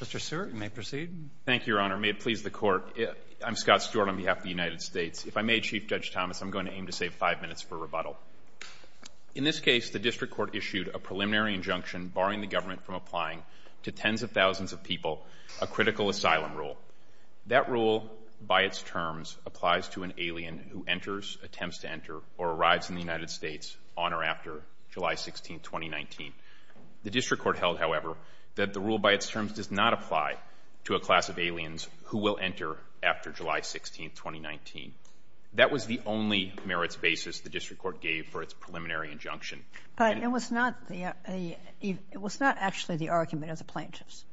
Mr. Seward, you may proceed. Thank you, Your Honor. May it please the Court, I'm Scott Seward on behalf of the United States. If I may, Chief Judge Thomas, I'm going to aim to save five minutes for rebuttal. In this case, the District Court issued a preliminary injunction barring the government from applying to tens of thousands of people a critical asylum rule. That rule, by its terms, applies to an alien who enters, attempts to enter, or arrives in the United States on or after July 16, 2019. The District Court held, however, that the rule, by its terms, does not apply to a class of aliens who will enter after July 16, 2019. That was the only merits basis the District Court gave for its preliminary injunction. But it was not the, it was not actually the argument of the plaintiffs.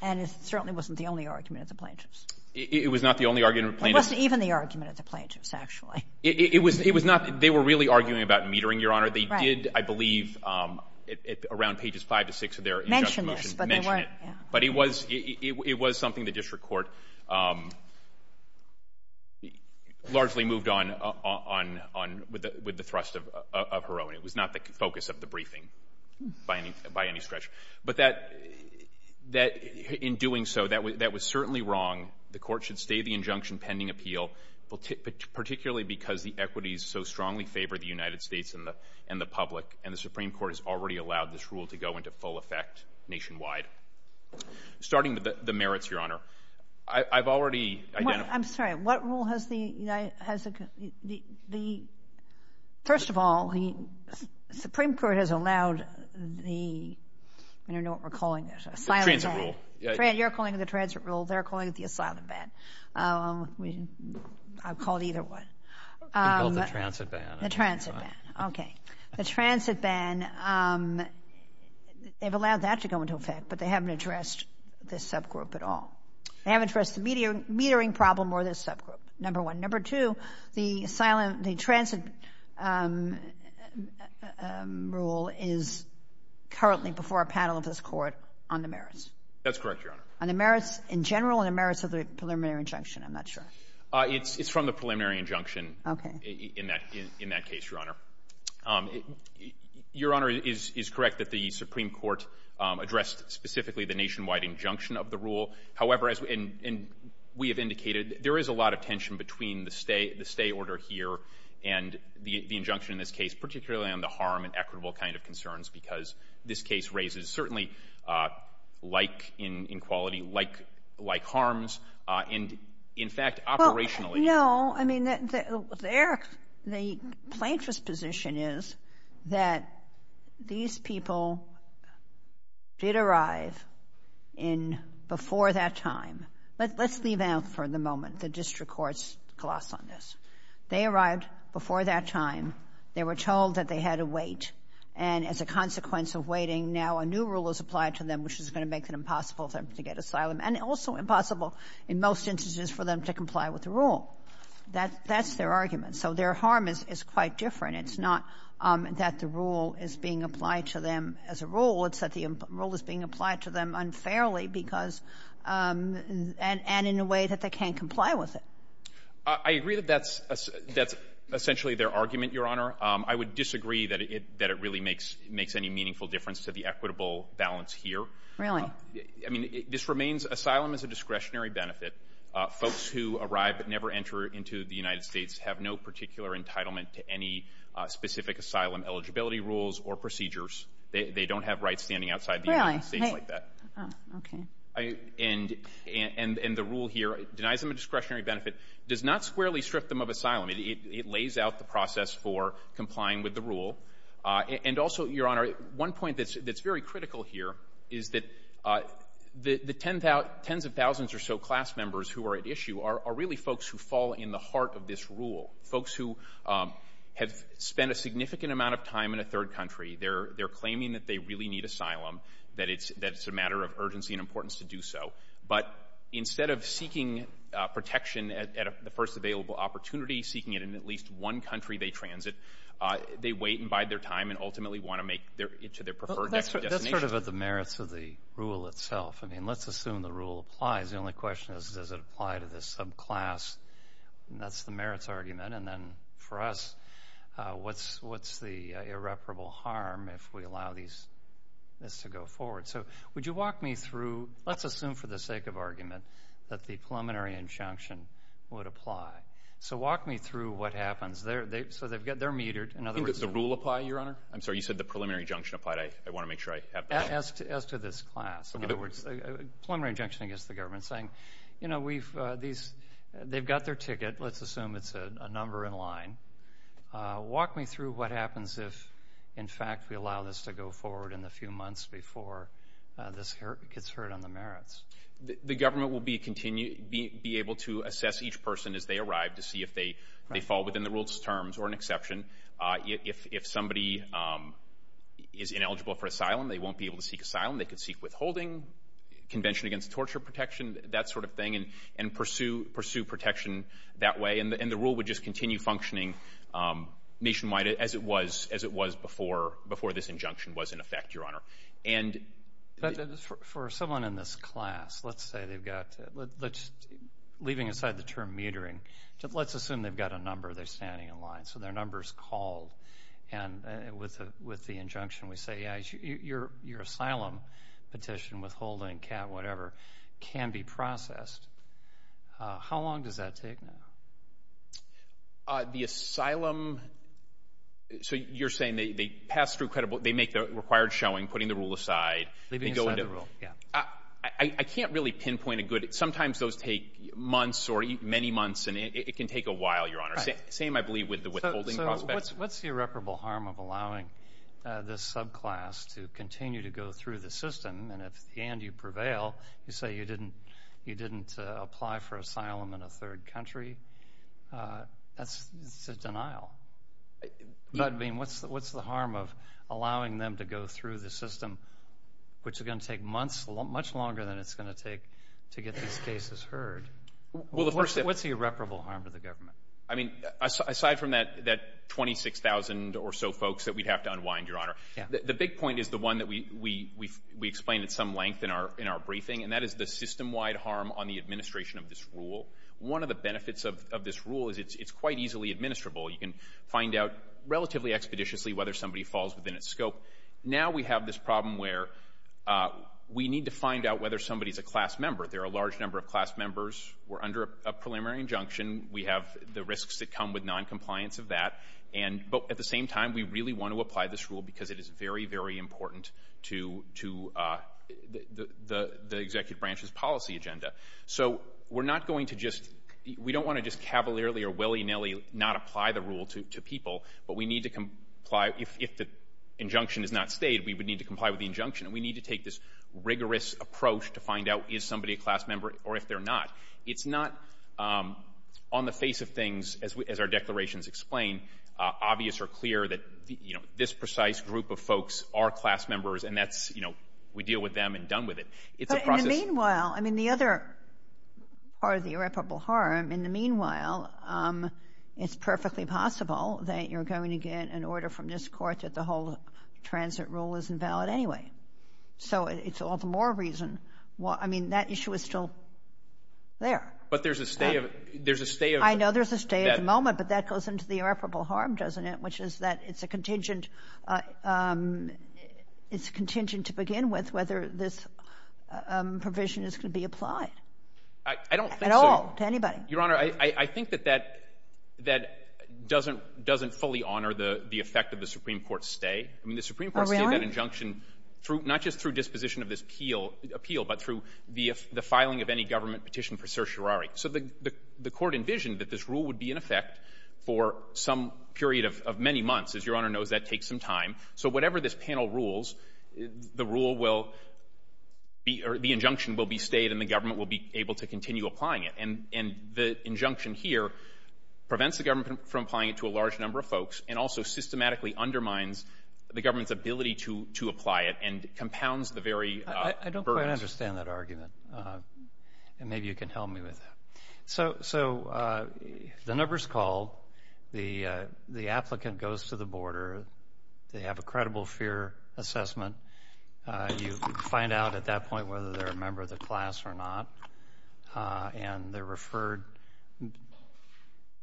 And it certainly wasn't the only argument of the plaintiffs. It was not the only argument of the plaintiffs. It wasn't even the argument of the plaintiffs, actually. It was, it was not, they were really arguing about metering, Your Honor. They did, I believe, around pages five to six of their injunction motion, mention it. But it was, it was something the District Court largely moved on, on, on, with the thrust of her own. It was not the focus of the briefing by any, by any stretch. But that, that, in doing so, that was certainly wrong. The Court should stay the injunction pending appeal, particularly because the equities so strongly favor the United States and the, and the public. And the Supreme Court has already allowed this rule to go into full effect nationwide. Starting with the, the merits, Your Honor, I, I've already identified. Well, I'm sorry. What rule has the United, has the, the, the, first of all, the Supreme Court has allowed the, I don't know what we're calling it, asylum. Transit rule. Transit rule. You're calling it the transit rule. They're calling it the asylum ban. We, I've called either one. We called the transit ban. The transit ban. Okay. The transit ban, they've allowed that to go into effect, but they haven't addressed this subgroup at all. They haven't addressed the metering, metering problem or this subgroup, number one. Number two, the asylum, the transit rule is currently before a panel of this Court on the merits. That's correct, Your Honor. On the merits, in general, on the merits of the preliminary injunction, I'm not sure. It's, it's from the preliminary injunction in that, in that case, Your Honor. Your Honor is, is correct that the Supreme Court addressed specifically the nationwide injunction of the rule. However, as we, and, and we have indicated, there is a lot of tension between the stay, the stay order here and the, the injunction in this case, particularly on the harm and in, in quality, like, like harms, and in fact, operationally. Well, no. I mean, the, their, the plaintiff's position is that these people did arrive in, before that time. Let, let's leave out for the moment the district court's gloss on this. They arrived before that time. They were told that they had to wait, and as a consequence of waiting, now a new rule is applied to them, which is going to make it impossible for them to get asylum, and also impossible, in most instances, for them to comply with the rule. That, that's their argument. So their harm is, is quite different. It's not that the rule is being applied to them as a rule. It's that the rule is being applied to them unfairly because, and, and in a way that they can't comply with it. I agree that that's, that's essentially their argument, Your Honor. I would disagree that it, that it really makes, makes any meaningful difference to the equitable balance here. Really? I mean, this remains, asylum is a discretionary benefit. Folks who arrive but never enter into the United States have no particular entitlement to any specific asylum eligibility rules or procedures. They don't have rights standing outside the United States like that. Really? Oh, okay. And, and, and the rule here denies them a discretionary benefit, does not squarely strip them of asylum. It, it lays out the process for complying with the rule. And also, Your Honor, one point that's, that's very critical here is that the, the tens of thousands or so class members who are at issue are, are really folks who fall in the heart of this rule. Folks who have spent a significant amount of time in a third country, they're, they're claiming that they really need asylum, that it's, that it's a matter of urgency and importance to do so. But instead of seeking protection at, at the first available opportunity, seeking it in at least one country they transit, they wait and bide their time and ultimately want to make their, to their preferred destination. That's sort of at the merits of the rule itself. I mean, let's assume the rule applies. The only question is, does it apply to this subclass, and that's the merits argument. And then for us, what's, what's the irreparable harm if we allow these, this to go forward? So would you walk me through, let's assume for the sake of argument, that the preliminary injunction would apply. So walk me through what happens. They're, they, so they've got, they're metered. In other words. Didn't the rule apply, Your Honor? I'm sorry, you said the preliminary injunction applied. I, I want to make sure I have that. As to, as to this class. Okay. In other words, preliminary injunction against the government saying, you know, we've, these, they've got their ticket. Let's assume it's a, a number in line. Walk me through what happens if, in fact, we allow this to go forward in the few months before this gets heard on the merits. The government will be continue, be, be able to assess each person as they arrive to see if they, they fall within the rule's terms, or an exception. If somebody is ineligible for asylum, they won't be able to seek asylum. They could seek withholding, convention against torture protection, that sort of thing, and, and pursue, pursue protection that way. And the rule would just continue functioning nationwide as it was, as it was before, before this injunction was in effect, Your Honor. And. But, for, for someone in this class, let's say they've got, let's, leaving aside the term metering, let's assume they've got a number, they're standing in line, so their number's called, and with a, with the injunction, we say, yeah, your, your asylum petition, withholding, cap, whatever, can be processed. How long does that take now? The asylum, so you're saying they, they pass through credible, they make the required showing, putting the rule aside. Leaving aside the rule. Yeah. I, I, I can't really pinpoint a good, sometimes those take months, or many months, and it, it can take a while, Your Honor. Right. Same, I believe, with the withholding prospect. So, so what's, what's the irreparable harm of allowing this subclass to continue to go through the system, and if, and you prevail, you say you didn't, you didn't apply for asylum in a third country, that's, that's a denial. But, I mean, what's, what's the harm of allowing them to go through the system, which is gonna take months, much longer than it's gonna take to get these cases heard? Well, the first step. What's the irreparable harm to the government? I mean, aside from that, that 26,000 or so folks that we'd have to unwind, Your Honor. Yeah. The, the big point is the one that we, we, we've, we explained at some length in our, in our briefing, and that is the system-wide harm on the administration of this rule. One of the benefits of, of this rule is it's, it's quite easily administrable. You can find out relatively expeditiously whether somebody falls within its scope. Now we have this problem where we need to find out whether somebody's a class member. There are a large number of class members who are under a preliminary injunction. We have the risks that come with noncompliance of that, and, but at the same time, we really want to apply this rule because it is very, very important to, to the, the, the executive branch's policy agenda. So we're not going to just, we don't want to just cavalierly or willy-nilly not apply the rule to, to people, but we need to comply, if, if the injunction is not stayed, we would need to comply with the injunction, and we need to take this rigorous approach to find out is somebody a class member or if they're not. It's not on the face of things, as we, as our declarations explain, obvious or clear that, you know, this precise group of folks are class members, and that's, you know, we deal with them and done with it. It's a process. But in the meanwhile, I mean, the other part of the irreparable harm, in the meanwhile, it's perfectly possible that you're going to get an order from this court that the whole transit rule isn't valid anyway. So it's all the more reason, well, I mean, that issue is still there. But there's a stay of, there's a stay of. I know there's a stay at the moment, but that goes into the irreparable harm, doesn't it, which is that it's a contingent, it's contingent to begin with whether this provision is going to be applied. At all. I don't think so. To anybody. Your Honor, I think that that doesn't fully honor the effect of the Supreme Court stay. I mean, the Supreme Court stayed that injunction through, not just through disposition of this appeal, but through the filing of any government petition for certiorari. So the court envisioned that this rule would be in effect for some period of many months. As Your Honor knows, that takes some time. So whatever this panel rules, the rule will be, or the injunction will be stayed and the government will be able to continue applying it. And the injunction here prevents the government from applying it to a large number of folks and also systematically undermines the government's ability to apply it and compounds the very burden. I don't quite understand that argument, and maybe you can help me with that. So the number's called, the applicant goes to the border, they have a credible fear assessment, you find out at that point whether they're a member of the class or not, and they're referred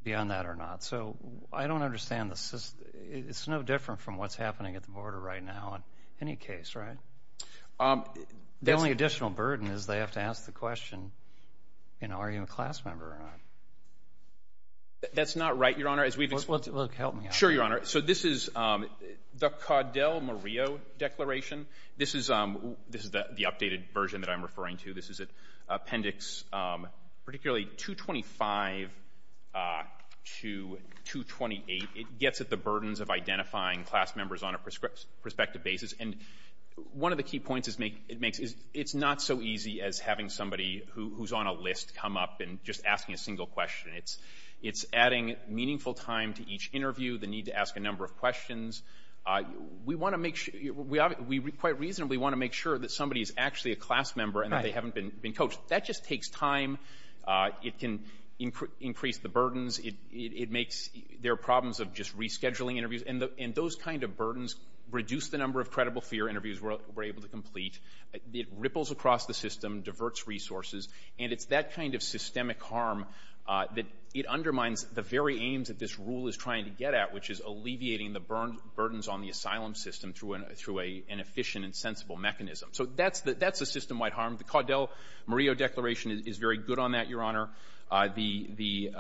beyond that or not. So I don't understand the, it's no different from what's happening at the border right now in any case, right? The only additional burden is they have to ask the question, you know, are you a class member or not? That's not right, Your Honor. Look, help me out. Sure, Your Honor. So this is the Caudel-Murillo Declaration. This is the updated version that I'm referring to. This is Appendix particularly 225 to 228. It gets at the burdens of identifying class members on a prospective basis. And one of the key points it makes is it's not so easy as having somebody who's on a list come up and just asking a single question. It's adding meaningful time to each interview, the need to ask a number of questions. We want to make sure, we quite reasonably want to make sure that somebody is actually a class member and that they haven't been coached. That just takes time. It can increase the burdens. It makes, there are problems of just rescheduling interviews, and those kind of burdens reduce the number of credible fear interviews we're able to complete. It ripples across the system, diverts resources, and it's that kind of systemic harm that it undermines the very aims that this rule is trying to get at, which is alleviating the burdens on the asylum system through an efficient and sensible mechanism. So that's a system-wide harm. The Caudel-Murillo Declaration is very good on that, Your Honor. The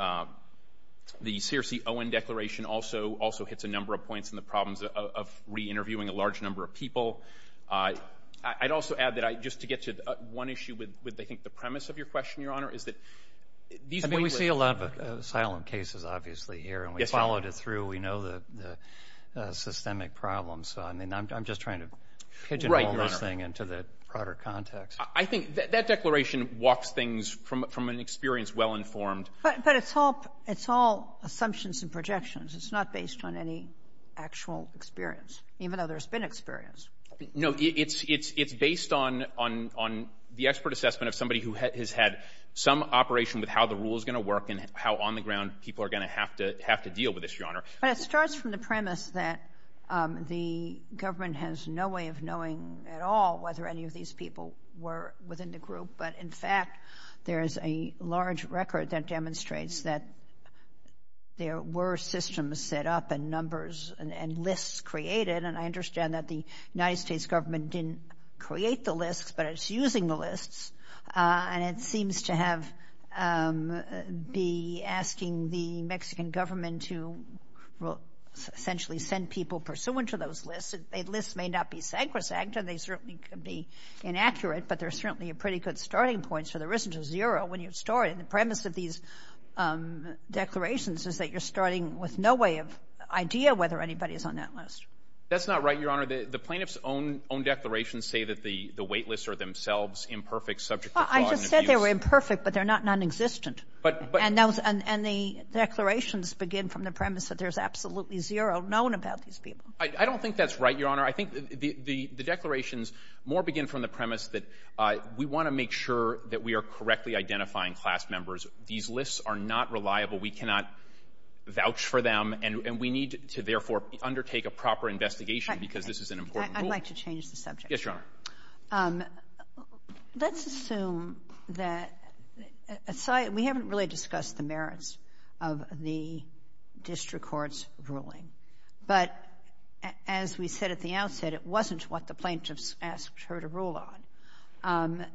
Searcy-Owen Declaration also hits a number of points in the problems of reinterviewing a large number of people. I'd also add that I, just to get to one issue with, I think, the premise of your question, Your Honor, is that these— I mean, we see a lot of asylum cases, obviously, here, and we've followed it through. We know the systemic problems, so I mean, I'm just trying to pigeonhole this thing into the broader context. I think that declaration walks things from an experience well-informed— But it's all assumptions and projections. It's not based on any actual experience, even though there's been experience. No, it's based on the expert assessment of somebody who has had some operation with how the rule is going to work and how, on the ground, people are going to have to deal with this, Your Honor. But it starts from the premise that the government has no way of knowing at all whether any of these people were within the group, but in fact, there is a large record that demonstrates that there were systems set up and numbers and lists created, and I understand that the United States government didn't create the lists, but it's using the lists, and it seems to have—be asking the Mexican government to essentially send people pursuant to those lists. The lists may not be sacrosanct, and they certainly could be inaccurate, but they're certainly a pretty good starting point, so there isn't a zero when you start. And the premise of these declarations is that you're starting with no way of idea whether anybody is on that list. That's not right, Your Honor. The plaintiffs' own declarations say that the wait lists are themselves imperfect, subject to fraud and abuse. I just said they were imperfect, but they're not nonexistent. But— And the declarations begin from the premise that there's absolutely zero known about these people. I don't think that's right, Your Honor. I think the declarations more begin from the premise that we want to make sure that we are correctly identifying class members. These lists are not reliable. We cannot vouch for them, and we need to, therefore, undertake a proper investigation because this is an important rule. I'd like to change the subject. Yes, Your Honor. Let's assume that—we haven't really discussed the merits of the district court's ruling, but as we said at the outset, it wasn't what the plaintiffs asked her to rule on.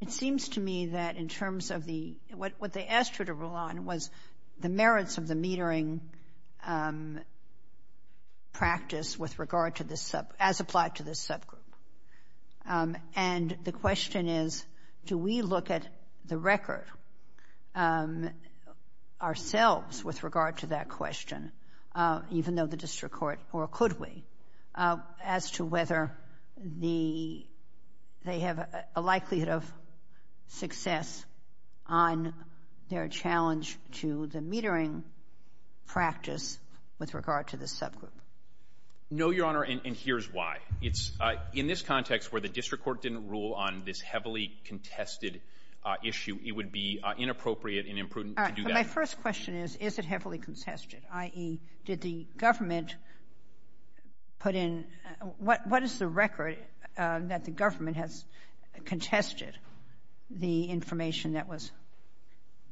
It seems to me that in terms of the—what they asked her to rule on was the merits of the metering practice with regard to this sub—as applied to this subgroup. And the question is, do we look at the record ourselves with regard to that question, even though the district court—or could we—as to whether the—they have a likelihood of success on their challenge to the metering practice with regard to this subgroup? No, Your Honor, and here's why. It's—in this context where the district court didn't rule on this heavily contested issue, it would be inappropriate and imprudent to do that. All right, but my first question is, is it heavily contested, i.e., did the government put in—what is the record that the government has contested the information that was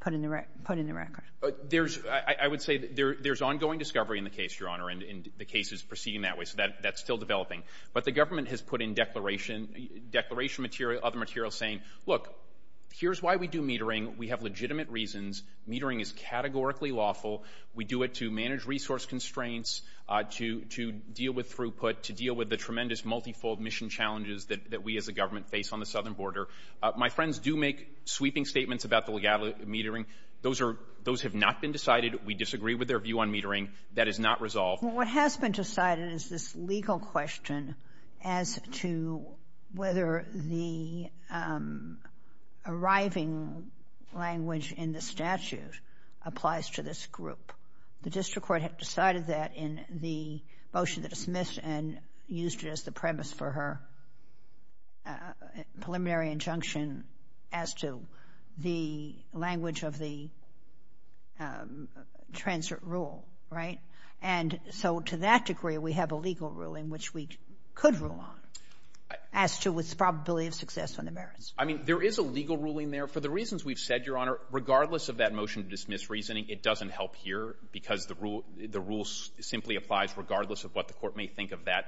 put in the record? There's—I would say there's ongoing discovery in the case, Your Honor, and the case is proceeding that way. So that's still developing. But the government has put in declaration—declaration material—other material saying, look, here's why we do metering. We have legitimate reasons. Metering is categorically lawful. We do it to manage resource constraints, to deal with throughput, to deal with the tremendous multifold mission challenges that we as a government face on the southern border. My friends do make sweeping statements about the legality of metering. Those are—those have not been decided. We disagree with their view on metering. That is not resolved. Well, what has been decided is this legal question as to whether the arriving language in the statute applies to this group. The district court had decided that in the motion that was dismissed and used it as the premise for her preliminary injunction as to the language of the transit rule, right? And so to that degree, we have a legal ruling which we could rule on as to its probability of success on the merits. I mean, there is a legal ruling there. For the reasons we've said, Your Honor, regardless of that motion to dismiss reasoning, it doesn't help here because the rule simply applies regardless of what the court may think of that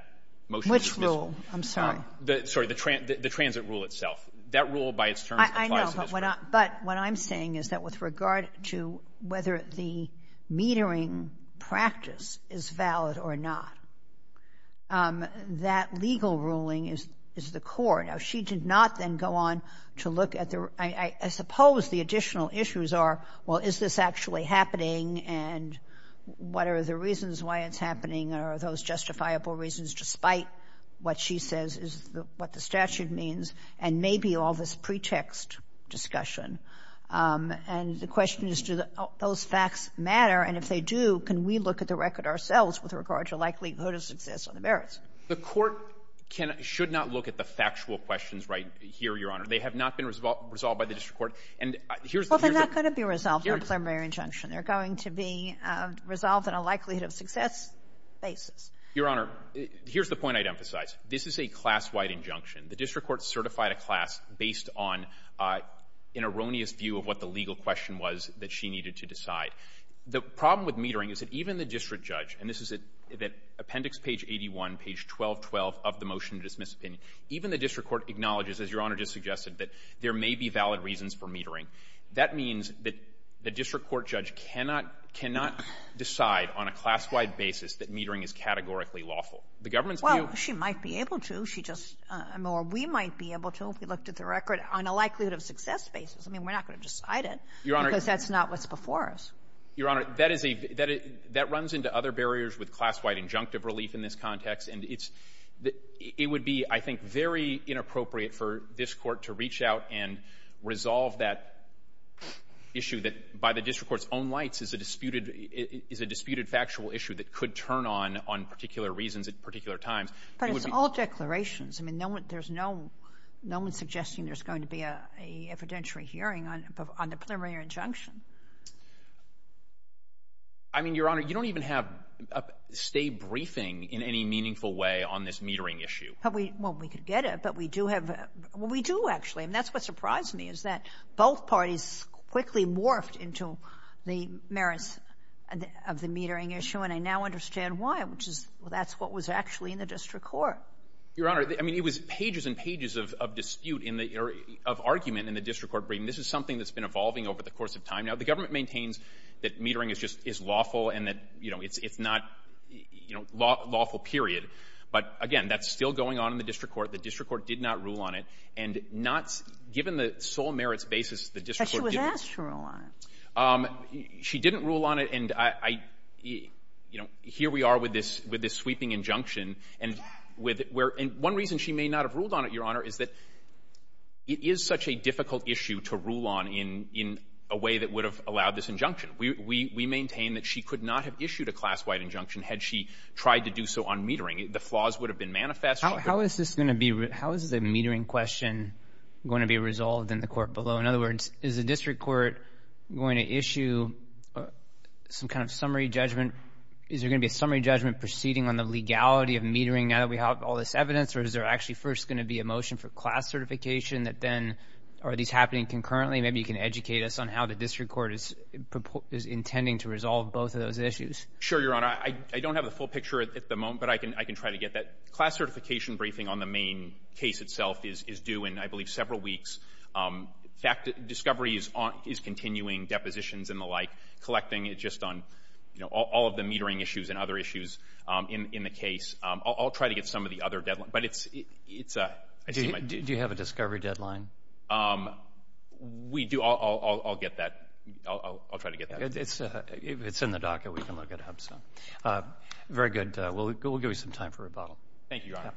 motion. Which rule? I'm sorry. Sorry. The transit rule itself. That rule by its terms applies to this group. But what I'm saying is that with regard to whether the metering practice is valid or not, that legal ruling is the core. Now, she did not then go on to look at the—I suppose the additional issues are, well, is this actually happening and what are the reasons why it's happening, are those justifiable reasons despite what she says is what the statute means, and maybe all this is a pretext discussion. And the question is do those facts matter, and if they do, can we look at the record ourselves with regard to likelihood of success on the merits? The court should not look at the factual questions right here, Your Honor. They have not been resolved by the district court. And here's the— Well, they're not going to be resolved in a preliminary injunction. They're going to be resolved in a likelihood of success basis. Your Honor, here's the point I'd emphasize. This is a class-wide injunction. The district court certified a class based on an erroneous view of what the legal question was that she needed to decide. The problem with metering is that even the district judge—and this is at Appendix Page 81, Page 1212 of the Motion to Dismiss Opinion—even the district court acknowledges, as Your Honor just suggested, that there may be valid reasons for metering. That means that the district court judge cannot decide on a class-wide basis that metering is categorically lawful. The government's view— Well, she might be able to. She just—or we might be able to, if we looked at the record, on a likelihood of success basis. I mean, we're not going to decide it— Your Honor— —because that's not what's before us. Your Honor, that is a—that runs into other barriers with class-wide injunctive relief in this context. And it's—it would be, I think, very inappropriate for this Court to reach out and resolve that issue that, by the district court's own lights, is a disputed—is a disputed factual issue that could turn on on particular reasons at particular times. It would be— Well, it's all declarations. I mean, no one—there's no—no one's suggesting there's going to be a—a evidentiary hearing on—on the preliminary injunction. I mean, Your Honor, you don't even have a state briefing in any meaningful way on this metering issue. But we—well, we could get it, but we do have—well, we do, actually. And that's what surprised me, is that both parties quickly morphed into the merits of the metering issue, and I now understand why, which is—well, that's what was actually in the district court. Your Honor, I mean, it was pages and pages of—of dispute in the—or of argument in the district court briefing. This is something that's been evolving over the course of time now. The government maintains that metering is just—is lawful and that, you know, it's—it's not, you know, lawful, period. But again, that's still going on in the district court. The district court did not rule on it. And not—given the sole merits basis, the district court— But she was asked to rule on it. She didn't rule on it, and I—you know, here we are with this—with this sweeping injunction, and with—where—and one reason she may not have ruled on it, Your Honor, is that it is such a difficult issue to rule on in—in a way that would have allowed this injunction. We—we maintain that she could not have issued a class-wide injunction had she tried to do so on metering. The flaws would have been manifest. How is this going to be—how is the metering question going to be resolved in the court below? In other words, is the district court going to issue some kind of summary judgment? Is there going to be a summary judgment proceeding on the legality of metering now that we have all this evidence? Or is there actually first going to be a motion for class certification that then—are these happening concurrently? Maybe you can educate us on how the district court is—is intending to resolve both of those issues. Sure, Your Honor. I—I don't have the full picture at the moment, but I can—I can try to get that. Class certification briefing on the main case itself is—is due in, I believe, several weeks. In fact, discovery is on—is continuing, depositions and the like, collecting it just on, you know, all—all of the metering issues and other issues in—in the case. I'll—I'll try to get some of the other deadline. But it's—it's a—I see my— Do you have a discovery deadline? We do. I'll—I'll—I'll get that. I'll—I'll try to get that. It's a—it's in the docket. We can look it up, so. Very good. We'll—we'll give you some time for rebuttal. Thank you, Your Honor.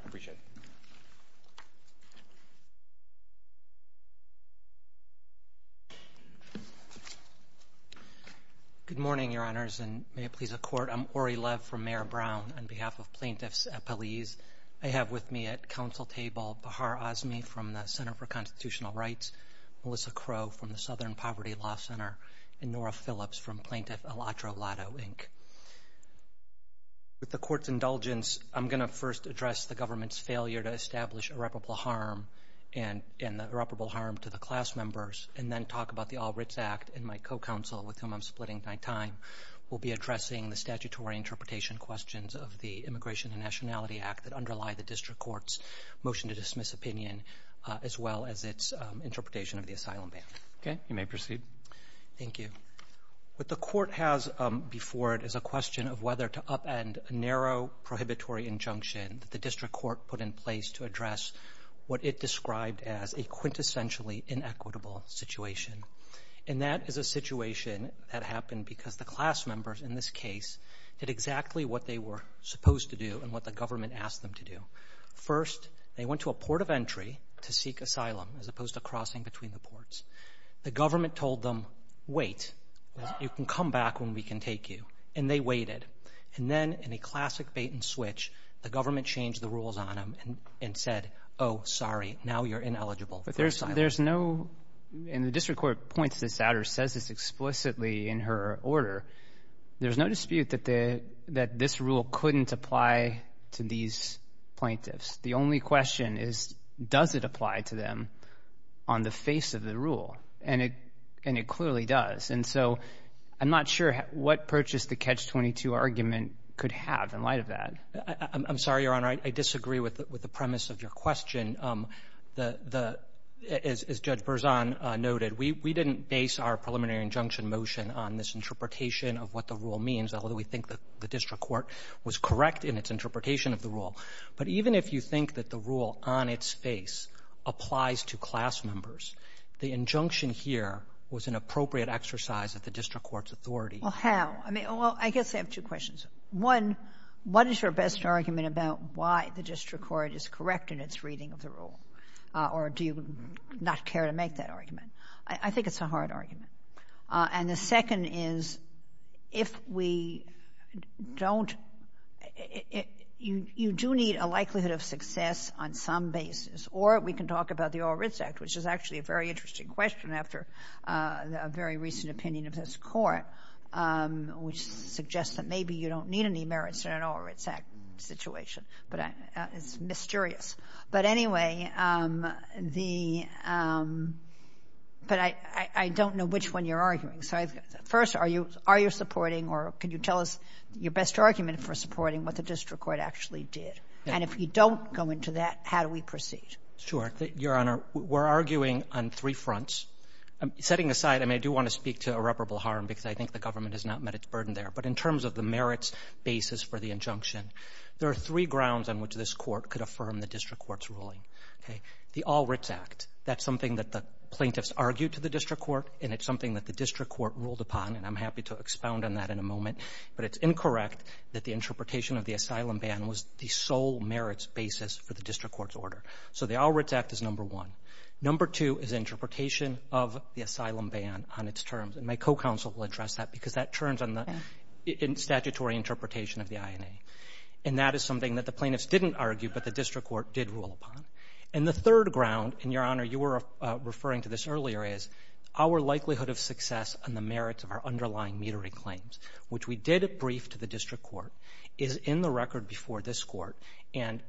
Good morning, Your Honors, and may it please the Court, I'm Ori Lev from Mayor Brown. On behalf of plaintiffs' appellees, I have with me at counsel table Bahar Azmi from the Center for Constitutional Rights, Melissa Crow from the Southern Poverty Law Center, and Nora Phillips from Plaintiff Elatro Lado, Inc. With the Court's indulgence, I'm going to first address the government's failure to harm to the class members, and then talk about the All Writs Act, and my co-counsel, with whom I'm splitting my time, will be addressing the statutory interpretation questions of the Immigration and Nationality Act that underlie the District Court's motion to dismiss opinion, as well as its interpretation of the asylum ban. Okay. You may proceed. Thank you. What the Court has before it is a question of whether to upend a narrow prohibitory injunction that the District Court put in place to address what it described as a quintessentially inequitable situation. And that is a situation that happened because the class members, in this case, did exactly what they were supposed to do, and what the government asked them to do. First, they went to a port of entry to seek asylum, as opposed to crossing between the ports. The government told them, wait, you can come back when we can take you. And they waited. And then, in a classic bait and switch, the government changed the rules on them and said, oh, sorry, now you're ineligible for asylum. There's no, and the District Court points this out, or says this explicitly in her order, there's no dispute that this rule couldn't apply to these plaintiffs. The only question is, does it apply to them on the face of the rule? And it clearly does. And so, I'm not sure what purchase the Catch-22 argument could have in light of that. I'm sorry, Your Honor, I disagree with the premise of your question. As Judge Berzon noted, we didn't base our preliminary injunction motion on this interpretation of what the rule means, although we think the District Court was correct in its interpretation of the rule. But even if you think that the rule, on its face, applies to class members, the injunction here was an appropriate exercise of the District Court's authority. Well, how? I mean, well, I guess I have two questions. One, what is your best argument about why the District Court is correct in its reading of the rule? Or do you not care to make that argument? I think it's a hard argument. And the second is, if we don't, you do need a likelihood of success on some basis. Or we can talk about the Orr-Ritz Act, which is actually a very interesting question after a very recent opinion of this Court, which suggests that maybe you don't need any merits in an Orr-Ritz Act situation. But it's mysterious. But anyway, the—but I don't know which one you're arguing. So first, are you supporting, or can you tell us your best argument for supporting what the District Court actually did? And if you don't go into that, how do we proceed? Sure. Your Honor, we're arguing on three fronts. Setting aside—I mean, I do want to speak to irreparable harm, because I think the government has not met its burden there. But in terms of the merits basis for the injunction, there are three grounds on which this Court could affirm the District Court's ruling. The Orr-Ritz Act. That's something that the plaintiffs argued to the District Court, and it's something that—but it's incorrect that the interpretation of the asylum ban was the sole merits basis for the District Court's order. So the Orr-Ritz Act is number one. Number two is interpretation of the asylum ban on its terms. And my co-counsel will address that, because that turns on the statutory interpretation of the INA. And that is something that the plaintiffs didn't argue, but the District Court did rule upon. And the third ground—and, Your Honor, you were referring to this earlier—is our likelihood of success on the merits of our underlying metering claims, which we did brief to the District Court, is in the record before this Court. And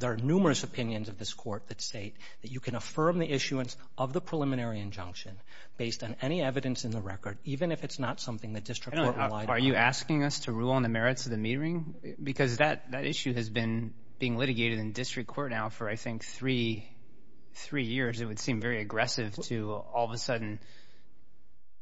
there are numerous opinions of this Court that state that you can affirm the issuance of the preliminary injunction based on any evidence in the record, even if it's not something the District Court relied on. Are you asking us to rule on the merits of the metering? Because that issue has been being litigated in District Court now for, I think, three years. It would seem very aggressive to, all of a sudden,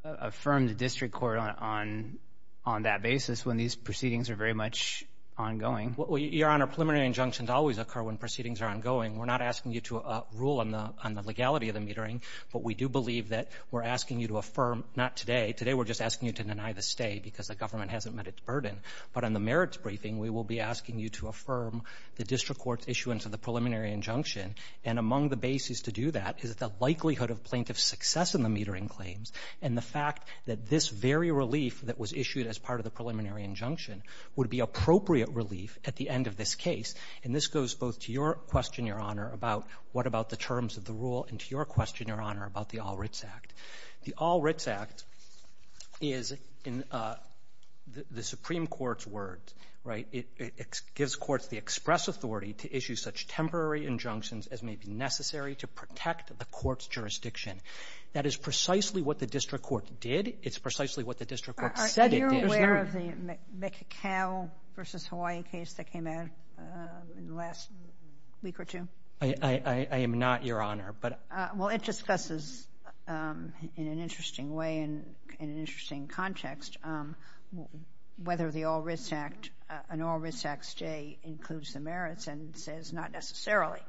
affirm the District Court on that basis when these proceedings are very much ongoing. Well, Your Honor, preliminary injunctions always occur when proceedings are ongoing. We're not asking you to rule on the legality of the metering, but we do believe that we're asking you to affirm—not today, today we're just asking you to deny the stay because the government hasn't met its burden. But on the merits briefing, we will be asking you to affirm the District Court's issuance of the preliminary injunction. And among the basis to do that is the likelihood of plaintiff's success in the metering claims and the fact that this very relief that was issued as part of the preliminary injunction would be appropriate relief at the end of this case. And this goes both to your question, Your Honor, about what about the terms of the rule, and to your question, Your Honor, about the All-Writs Act. The All-Writs Act is, in the Supreme Court's words, right, it gives courts the express authority to issue such temporary injunctions as may be necessary to protect the court's jurisdiction. That is precisely what the District Court did. It's precisely what the District Court said it did. Are you aware of the Mecocow v. Hawaii case that came out in the last week or two? I am not, Your Honor, but— Well, it discusses in an interesting way and in an interesting context whether the All-Writs Act, J, includes the merits and says not necessarily,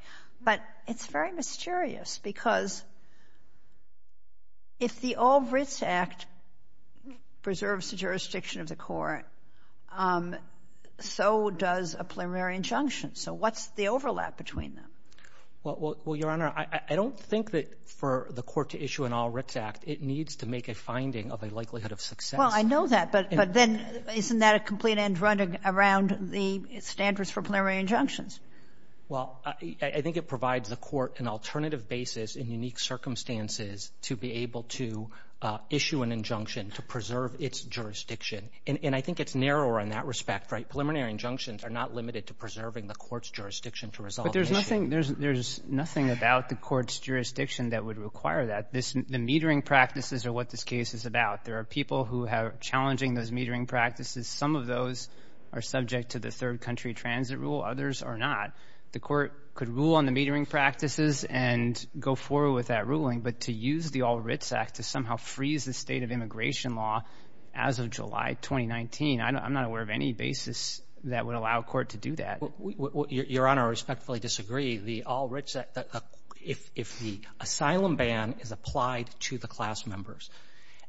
but it's very mysterious because if the All-Writs Act preserves the jurisdiction of the court, so does a preliminary injunction. So what's the overlap between them? Well, Your Honor, I don't think that for the court to issue an All-Writs Act, it needs to make a finding of a likelihood of success. Well, I know that, but then isn't that a complete end-run around the standards for preliminary injunctions? Well, I think it provides the court an alternative basis in unique circumstances to be able to issue an injunction to preserve its jurisdiction. And I think it's narrower in that respect, right? Preliminary injunctions are not limited to preserving the court's jurisdiction to resolve the issue. But there's nothing — there's nothing about the court's jurisdiction that would require that. The metering practices are what this case is about. There are people who are challenging those metering practices. Some of those are subject to the third-country transit rule. Others are not. The court could rule on the metering practices and go forward with that ruling, but to use the All-Writs Act to somehow freeze the state of immigration law as of July 2019, I'm not aware of any basis that would allow a court to do that. Your Honor, I respectfully disagree. The All-Writs Act — if the asylum ban is applied to the class members.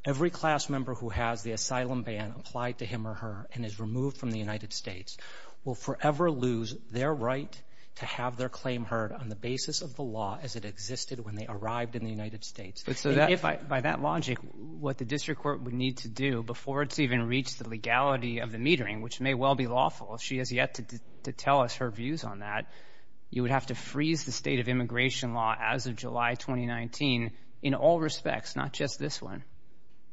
Every class member who has the asylum ban applied to him or her and is removed from the United States will forever lose their right to have their claim heard on the basis of the law as it existed when they arrived in the United States. But so that — If I — by that logic, what the district court would need to do before it's even reached the legality of the metering, which may well be lawful if she has yet to tell us her views on that, you would have to freeze the state of immigration law as of July 2019 in all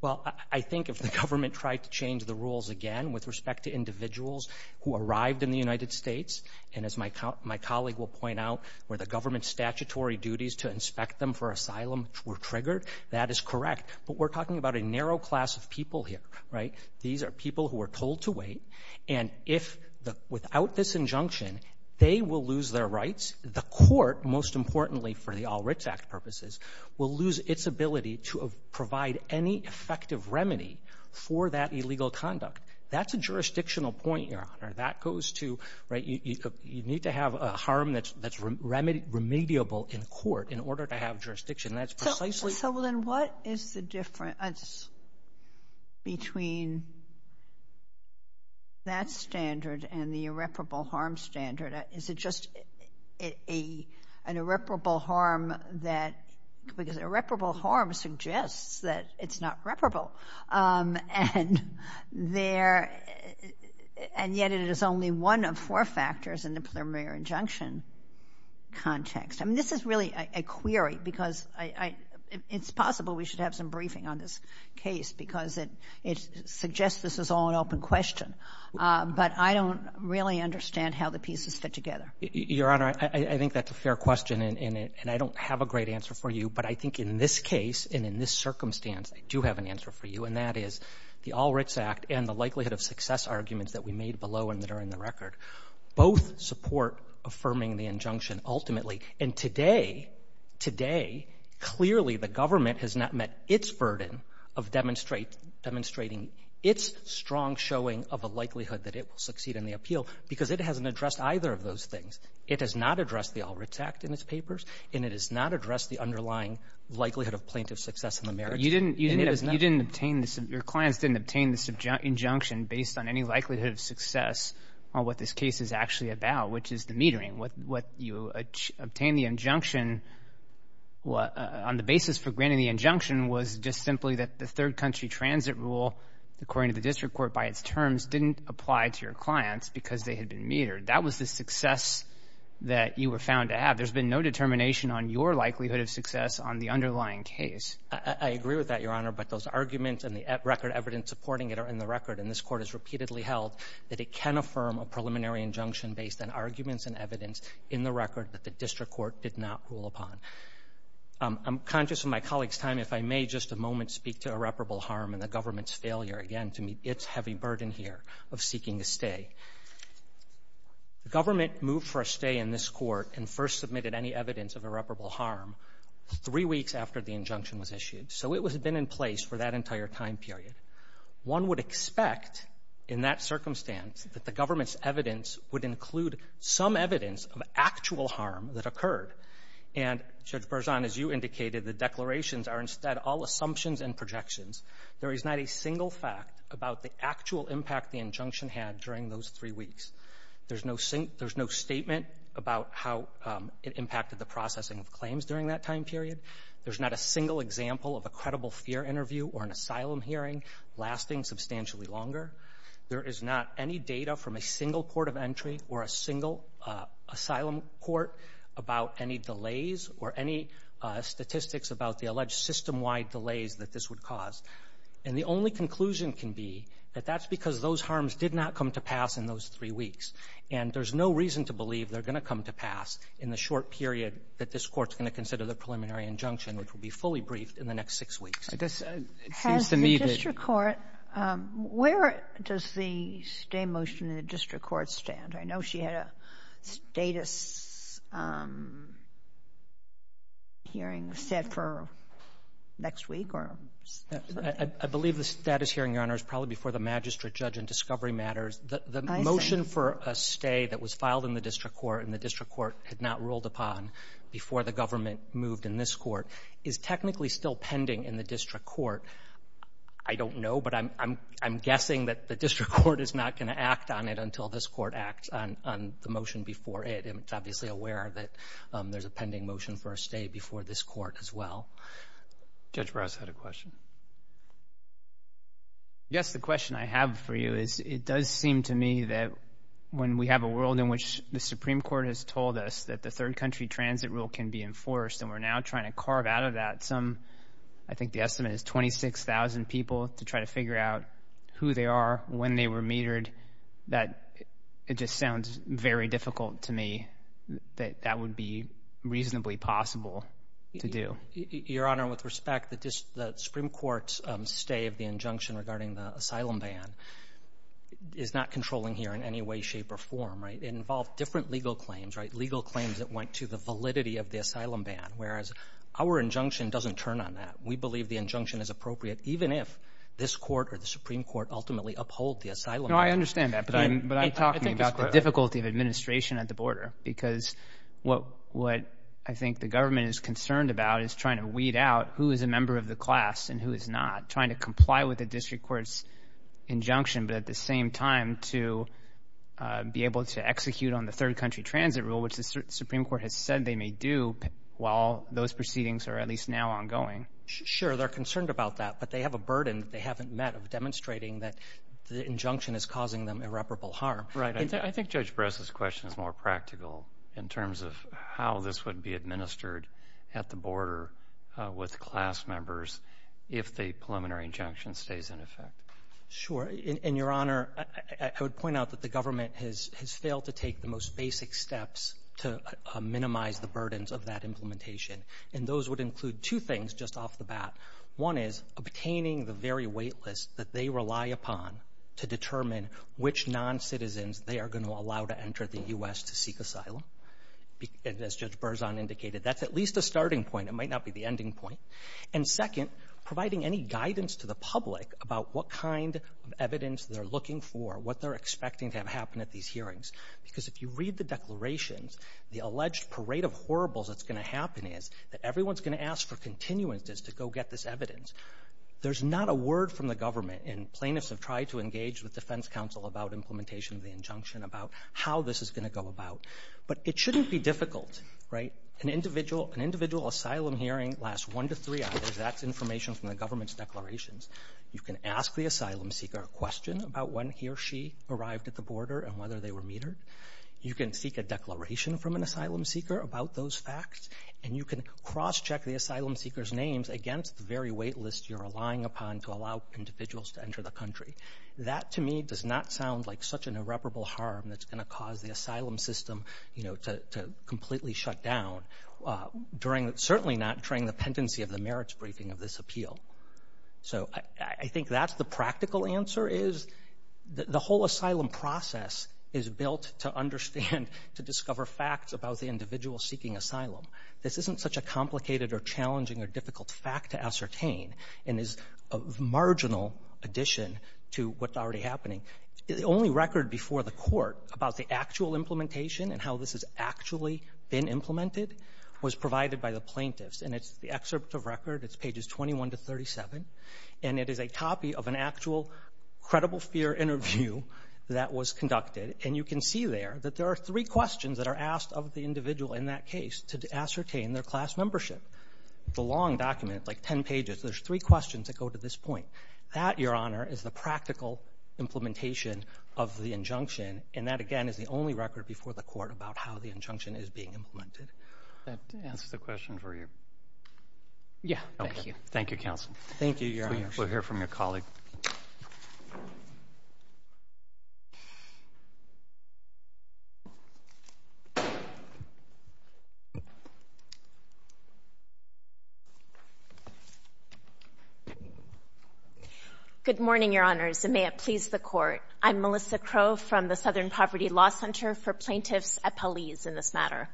Well, I think if the government tried to change the rules again with respect to individuals who arrived in the United States, and as my colleague will point out, where the government's statutory duties to inspect them for asylum were triggered, that is correct. But we're talking about a narrow class of people here, right? These are people who are told to wait, and if — without this injunction, they will lose their rights. The court, most importantly for the All-Writs Act purposes, will lose its ability to provide any effective remedy for that illegal conduct. That's a jurisdictional point, Your Honor. That goes to — right, you need to have a harm that's remediable in court in order to have jurisdiction. That's precisely — So then what is the difference between that standard and the irreparable harm standard? Is it just an irreparable harm that — because irreparable harm suggests that it's not reparable. And yet it is only one of four factors in the preliminary injunction context. I mean, this is really a query because I — it's possible we should have some briefing on this case because it suggests this is all an open question, but I don't really understand how the pieces fit together. Your Honor, I think that's a fair question, and I don't have a great answer for you. But I think in this case and in this circumstance, I do have an answer for you, and that is the All-Writs Act and the likelihood of success arguments that we made below and that are in the record both support affirming the injunction ultimately. And today, today, clearly the government has not met its burden of demonstrating its strong showing of a likelihood that it will succeed in the appeal because it hasn't addressed either of those things. It has not addressed the All-Writs Act in its papers, and it has not addressed the underlying likelihood of plaintiff success in the merits. You didn't — And it has not. You didn't obtain — your clients didn't obtain this injunction based on any likelihood of success on what this case is actually about, which is the metering. What you obtained the injunction — on the basis for granting the injunction was just didn't apply to your clients because they had been metered. That was the success that you were found to have. There's been no determination on your likelihood of success on the underlying case. I agree with that, Your Honor, but those arguments and the record evidence supporting it are in the record, and this Court has repeatedly held that it can affirm a preliminary injunction based on arguments and evidence in the record that the district court did not rule upon. I'm conscious of my colleague's time. If I may just a moment speak to irreparable harm and the government's failure, again, to meet its heavy burden here of seeking a stay. The government moved for a stay in this Court and first submitted any evidence of irreparable harm three weeks after the injunction was issued. So it has been in place for that entire time period. One would expect, in that circumstance, that the government's evidence would include some evidence of actual harm that occurred. And Judge Berzon, as you indicated, the declarations are instead all assumptions and projections. There is not a single fact about the actual impact the injunction had during those three weeks. There's no statement about how it impacted the processing of claims during that time period. There's not a single example of a credible fear interview or an asylum hearing lasting substantially longer. There is not any data from a single court of entry or a single asylum court about any statistics about the alleged system-wide delays that this would cause. And the only conclusion can be that that's because those harms did not come to pass in those three weeks. And there's no reason to believe they're going to come to pass in the short period that this Court's going to consider the preliminary injunction, which will be fully briefed in the next six weeks. It seems to me that — Has the district court — where does the stay motion in the district court stand? I know she had a status hearing set for next week or — I believe the status hearing, Your Honor, is probably before the magistrate judge in discovery matters. The motion for a stay that was filed in the district court and the district court had not ruled upon before the government moved in this court is technically still pending in the district court. I don't know, but I'm guessing that the district court is not going to act on it until this court acts on the motion before it. And it's obviously aware that there's a pending motion for a stay before this court as well. Judge Brouse had a question. Yes, the question I have for you is, it does seem to me that when we have a world in which the Supreme Court has told us that the third country transit rule can be enforced and we're now trying to carve out of that some — I think the estimate is 26,000 people to try to figure out who they are, when they were metered. That — it just sounds very difficult to me that that would be reasonably possible to do. Your Honor, with respect, the Supreme Court's stay of the injunction regarding the asylum ban is not controlling here in any way, shape, or form, right? It involved different legal claims, right? Legal claims that went to the validity of the asylum ban, whereas our injunction doesn't turn on that. We believe the injunction is appropriate even if this court or the Supreme Court ultimately uphold the asylum ban. No, I understand that, but I'm talking about the difficulty of administration at the border because what I think the government is concerned about is trying to weed out who is a member of the class and who is not, trying to comply with the district court's injunction but at the same time to be able to execute on the third country transit rule, which the Supreme Court has said they may do while those proceedings are at least now ongoing. Sure, they're concerned about that, but they have a burden that they haven't met of demonstrating that the injunction is causing them irreparable harm. Right. I think Judge Bress's question is more practical in terms of how this would be administered at the border with class members if the preliminary injunction stays in effect. Sure. And, Your Honor, I would point out that the government has failed to take the most basic steps to minimize the burdens of that implementation, and those would include two things. Two things just off the bat. One is obtaining the very wait list that they rely upon to determine which noncitizens they are going to allow to enter the U.S. to seek asylum, as Judge Berzon indicated. That's at least a starting point. It might not be the ending point. And second, providing any guidance to the public about what kind of evidence they're looking for, what they're expecting to have happen at these hearings, because if you read the declarations, the alleged parade of horribles that's going to happen is that everyone's going to ask for continuances to go get this evidence. There's not a word from the government, and plaintiffs have tried to engage with Defense Counsel about implementation of the injunction, about how this is going to go about. But it shouldn't be difficult, right? An individual asylum hearing lasts one to three hours. That's information from the government's declarations. You can ask the asylum seeker a question about when he or she arrived at the border and whether they were metered. You can seek a declaration from an asylum seeker about those facts, and you can cross-check the asylum seeker's names against the very wait list you're relying upon to allow individuals to enter the country. That to me does not sound like such an irreparable harm that's going to cause the asylum system to completely shut down, certainly not during the pendency of the merits briefing of this appeal. So I think that's the practical answer, is the whole asylum process is built to understand, to discover facts about the individual seeking asylum. This isn't such a complicated or challenging or difficult fact to ascertain, and is a marginal addition to what's already happening. The only record before the court about the actual implementation and how this has actually been implemented was provided by the plaintiffs, and it's the excerpt of record. It's pages 21 to 37, and it is a copy of an actual credible fear interview that was conducted. And you can see there that there are three questions that are asked of the individual in that case to ascertain their class membership. The long document, like 10 pages, there's three questions that go to this point. That, Your Honor, is the practical implementation of the injunction, and that again is the only record before the court about how the injunction is being implemented. That answers the question for you. Yeah. Thank you. Thank you, counsel. Thank you, Your Honor. We'll hear from your colleague. Thank you. Good morning, Your Honors, and may it please the Court. I'm Melissa Crowe from the Southern Poverty Law Center for plaintiffs at Paliz in this matter.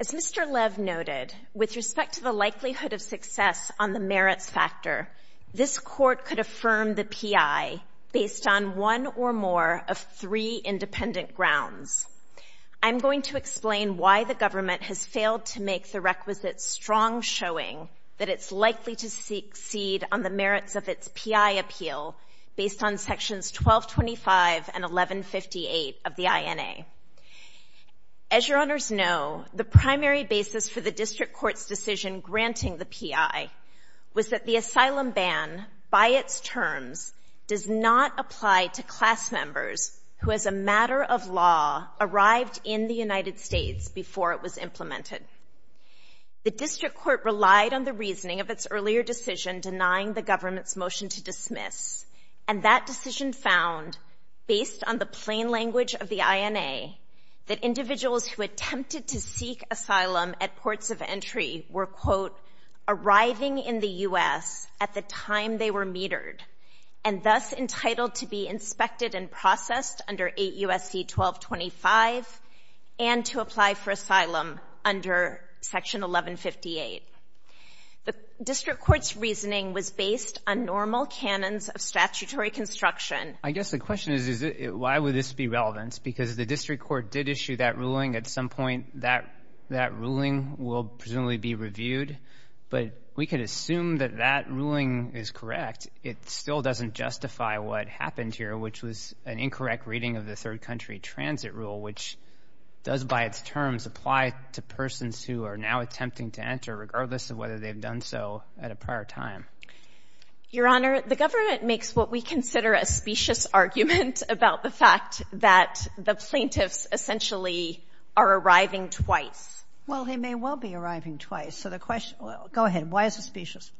As Mr. Lev noted, with respect to the likelihood of success on the merits factor, this Court could affirm the P.I. based on one or more of three independent grounds. I'm going to explain why the government has failed to make the requisite strong showing that it's likely to succeed on the merits of its P.I. appeal based on Sections 1225 and 1158 of the INA. As Your Honors know, the primary basis for the district court's decision granting the P.I. was that the asylum ban, by its terms, does not apply to class members who as a matter of law arrived in the United States before it was implemented. The district court relied on the reasoning of its earlier decision denying the government's to dismiss, and that decision found, based on the plain language of the INA, that individuals who attempted to seek asylum at ports of entry were, quote, arriving in the U.S. at the time they were metered, and thus entitled to be inspected and processed under 8 U.S.C. 1225 and to apply for asylum under Section 1158. The district court's reasoning was based on normal canons of statutory construction. I guess the question is, why would this be relevant? Because the district court did issue that ruling. At some point, that ruling will presumably be reviewed, but we can assume that that ruling is correct. It still doesn't justify what happened here, which was an incorrect reading of the third country transit rule, which does, by its terms, apply to persons who are now attempting to seek asylum, regardless of whether they've done so at a prior time. Your Honor, the government makes what we consider a specious argument about the fact that the plaintiffs essentially are arriving twice. Well, they may well be arriving twice, so the question—go ahead. Why is it specious?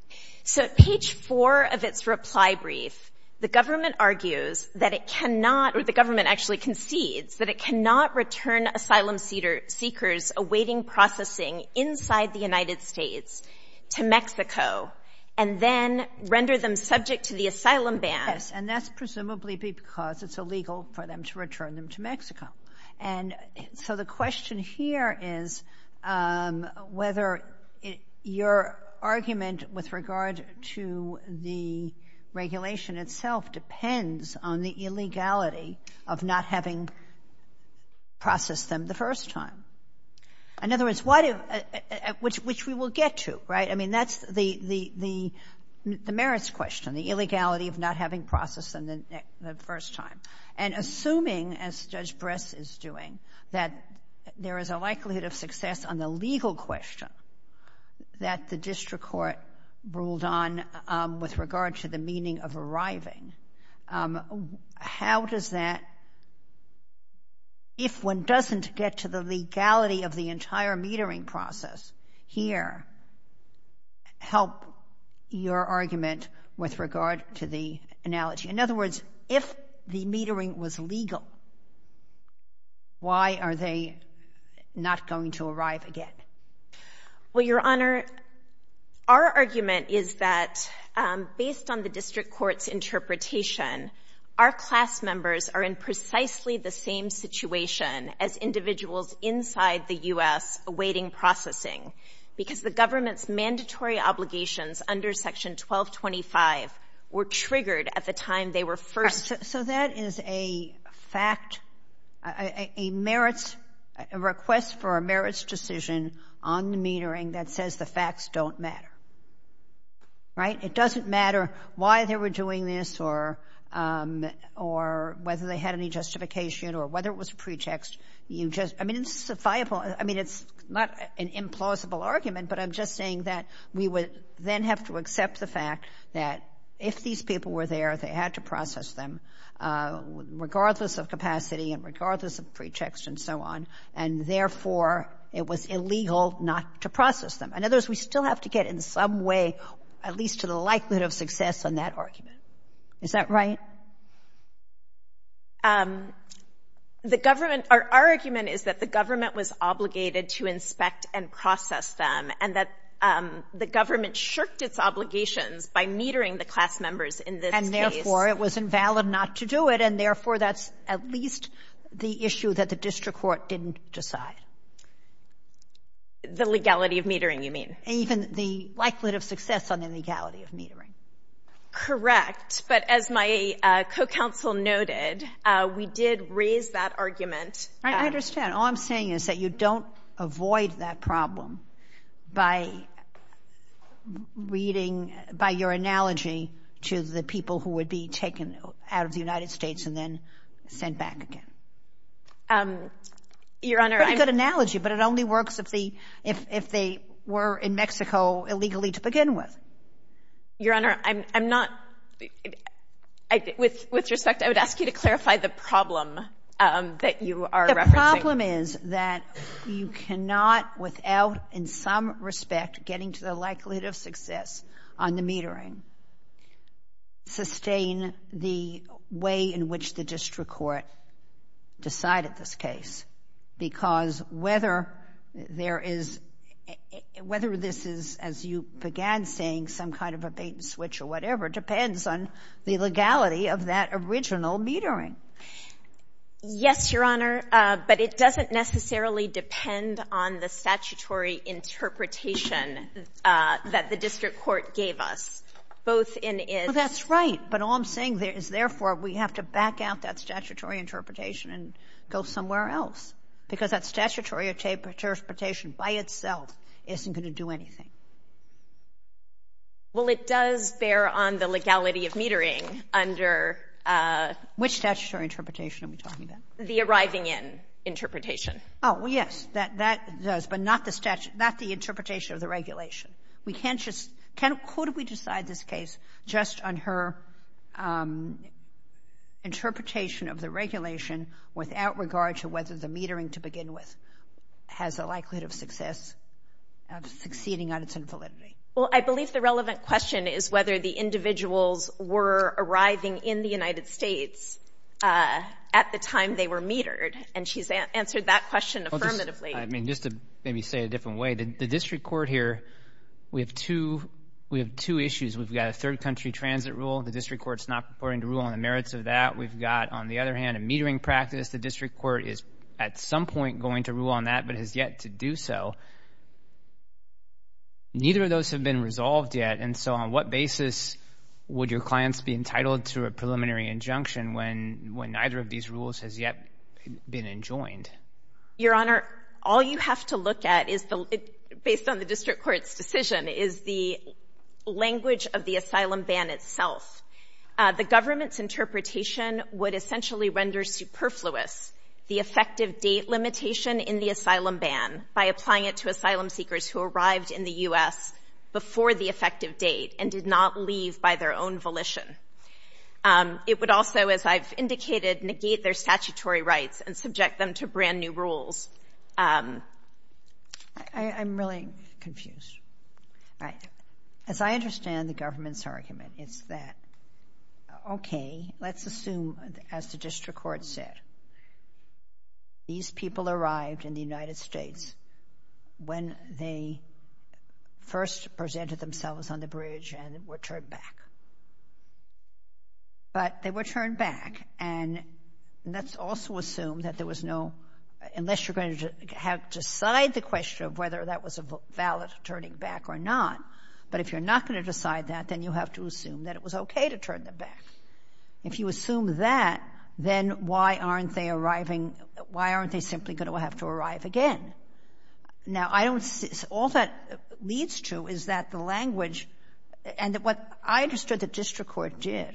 So, at page 4 of its reply brief, the government argues that it cannot—or the government actually concedes that it cannot return asylum seekers awaiting processing inside the United States to Mexico and then render them subject to the asylum ban. Yes, and that's presumably because it's illegal for them to return them to Mexico. And so the question here is whether your argument with regard to the regulation itself depends on the illegality of not having processed them the first time. In other words, which we will get to, right? I mean, that's the merits question, the illegality of not having processed them the first time. And assuming, as Judge Bress is doing, that there is a likelihood of success on the legal question that the district court ruled on with regard to the meaning of arriving, how does that—if one doesn't get to the legality of the entire metering process here—help your argument with regard to the analogy? In other words, if the metering was legal, why are they not going to arrive again? Well, Your Honor, our argument is that based on the district court's interpretation, our class members are in precisely the same situation as individuals inside the U.S. awaiting processing because the government's mandatory obligations under Section 1225 were triggered at the time they were first— So that is a fact—a merits—a request for a merits decision on the metering that says the facts don't matter, right? It doesn't matter why they were doing this or whether they had any justification or whether it was pretext. You just—I mean, it's a viable—I mean, it's not an implausible argument, but I'm just saying that we would then have to accept the fact that if these people were there, they had to process them regardless of capacity and regardless of pretext and so on, and therefore it was illegal not to process them. In other words, we still have to get in some way at least to the likelihood of success on that argument. Is that right? The government—our argument is that the government was obligated to inspect and process them, and that the government shirked its obligations by metering the class members in this case. And therefore, it was invalid not to do it, and therefore that's at least the issue that the district court didn't decide. The legality of metering, you mean? Even the likelihood of success on the legality of metering. Correct, but as my co-counsel noted, we did raise that argument— I understand. All I'm saying is that you don't avoid that problem by reading—by your analogy to the people who would be taken out of the United States and then sent back again. Your Honor, I— Pretty good analogy, but it only works if they were in Mexico illegally to begin with. Your Honor, I'm not—with respect, I would ask you to clarify the problem that you are referencing. The problem is that you cannot, without in some respect getting to the likelihood of it, decide at this case, because whether there is—whether this is, as you began saying, some kind of a bait-and-switch or whatever, depends on the legality of that original metering. Yes, Your Honor, but it doesn't necessarily depend on the statutory interpretation that the district court gave us, both in its— interpretation and go somewhere else, because that statutory interpretation by itself isn't going to do anything. Well, it does bear on the legality of metering under— Which statutory interpretation are we talking about? The arriving-in interpretation. Oh, yes, that does, but not the interpretation of the regulation. We can't just—can—could we decide this case just on her interpretation of the regulation without regard to whether the metering to begin with has a likelihood of success, of succeeding on its infallibility? Well, I believe the relevant question is whether the individuals were arriving in the United States at the time they were metered, and she's answered that question affirmatively. I mean, just to maybe say it a different way, the district court here, we have two—we have two issues. We've got a third-country transit rule, the district court's not purporting to rule on the merits of that. We've got, on the other hand, a metering practice. The district court is, at some point, going to rule on that but has yet to do so. Neither of those have been resolved yet, and so on what basis would your clients be entitled to a preliminary injunction when neither of these rules has yet been enjoined? Your Honor, all you have to look at is—based on the district court's decision—is the language of the asylum ban itself. The government's interpretation would essentially render superfluous the effective date limitation in the asylum ban by applying it to asylum seekers who arrived in the U.S. before the effective date and did not leave by their own volition. It would also, as I've indicated, negate their statutory rights and subject them to brand new rules. I'm really confused. As I understand the government's argument, it's that, okay, let's assume, as the district court said, these people arrived in the United States when they first presented themselves on the bridge and were turned back. But they were turned back, and let's also assume that there was no—unless you're going to have to decide the question of whether that was a valid turning back or not. But if you're not going to decide that, then you have to assume that it was okay to turn them back. If you assume that, then why aren't they simply going to have to arrive again? Now, I don't—all that leads to is that the language—and what I understood the district court did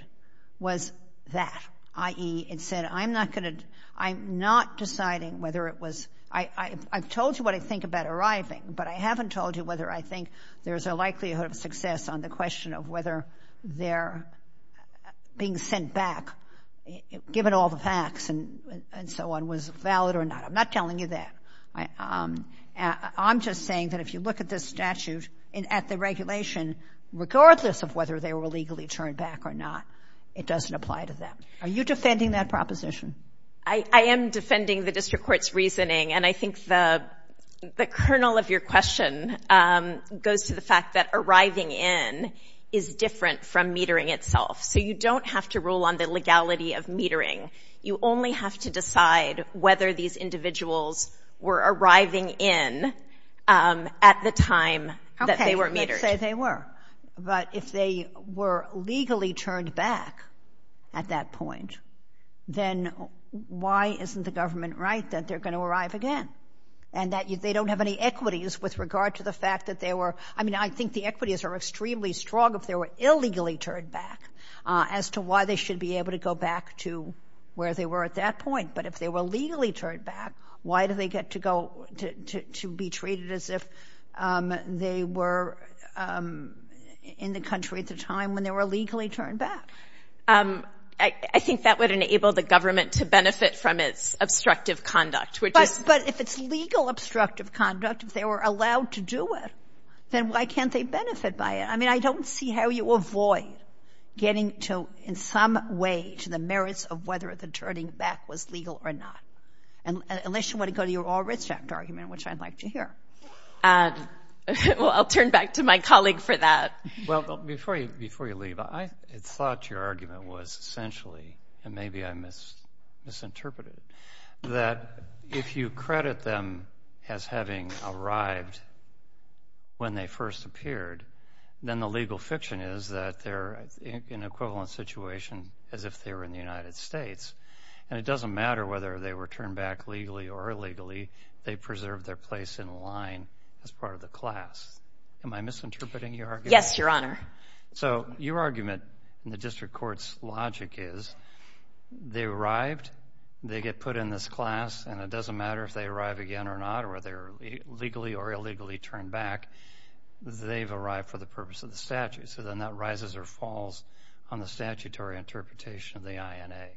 was that, i.e., it said, I'm not going to—I'm not deciding whether it was—I've told you what I think about arriving, but I haven't told you whether I think there's a likelihood of success on the question of whether their being sent back, given all the facts and so on, was valid or not. I'm not telling you that. I'm just saying that if you look at this statute and at the regulation, regardless of whether they were legally turned back or not, it doesn't apply to them. Are you defending that proposition? I am defending the district court's reasoning, and I think the kernel of your question goes to the fact that arriving in is different from metering itself. So you don't have to rule on the legality of metering. You only have to decide whether these individuals were arriving in at the time that they were Okay, let's say they were, but if they were legally turned back at that point, then why isn't the government right that they're going to arrive again and that they don't have any equities with regard to the fact that they were—I mean, I think the equities are extremely strong if they were illegally turned back as to why they should be able to go back to where they were at that point, but if they were legally turned back, why do they get to go—to be treated as if they were in the country at the time when they were legally turned back? I think that would enable the government to benefit from its obstructive conduct, which is— But if it's legal obstructive conduct, if they were allowed to do it, then why can't they benefit by it? I mean, I don't see how you avoid getting to, in some way, to the merits of whether the turning back was legal or not, unless you want to go to your all-restraint argument, which I'd like to hear. Well, I'll turn back to my colleague for that. Well, before you leave, I thought your argument was essentially—and maybe I misinterpreted it—that if you credit them as having arrived when they first appeared, then the legal fiction is that they're in an equivalent situation as if they were in the United States, and it doesn't matter whether they were turned back legally or illegally, they preserved their place in line as part of the class. Am I misinterpreting your argument? Yes, Your Honor. So, your argument in the district court's logic is, they arrived, they get put in this class, and it doesn't matter if they arrive again or not, or whether they're legally or illegally turned back, they've arrived for the purpose of the statute. So then that rises or falls on the statutory interpretation of the INA.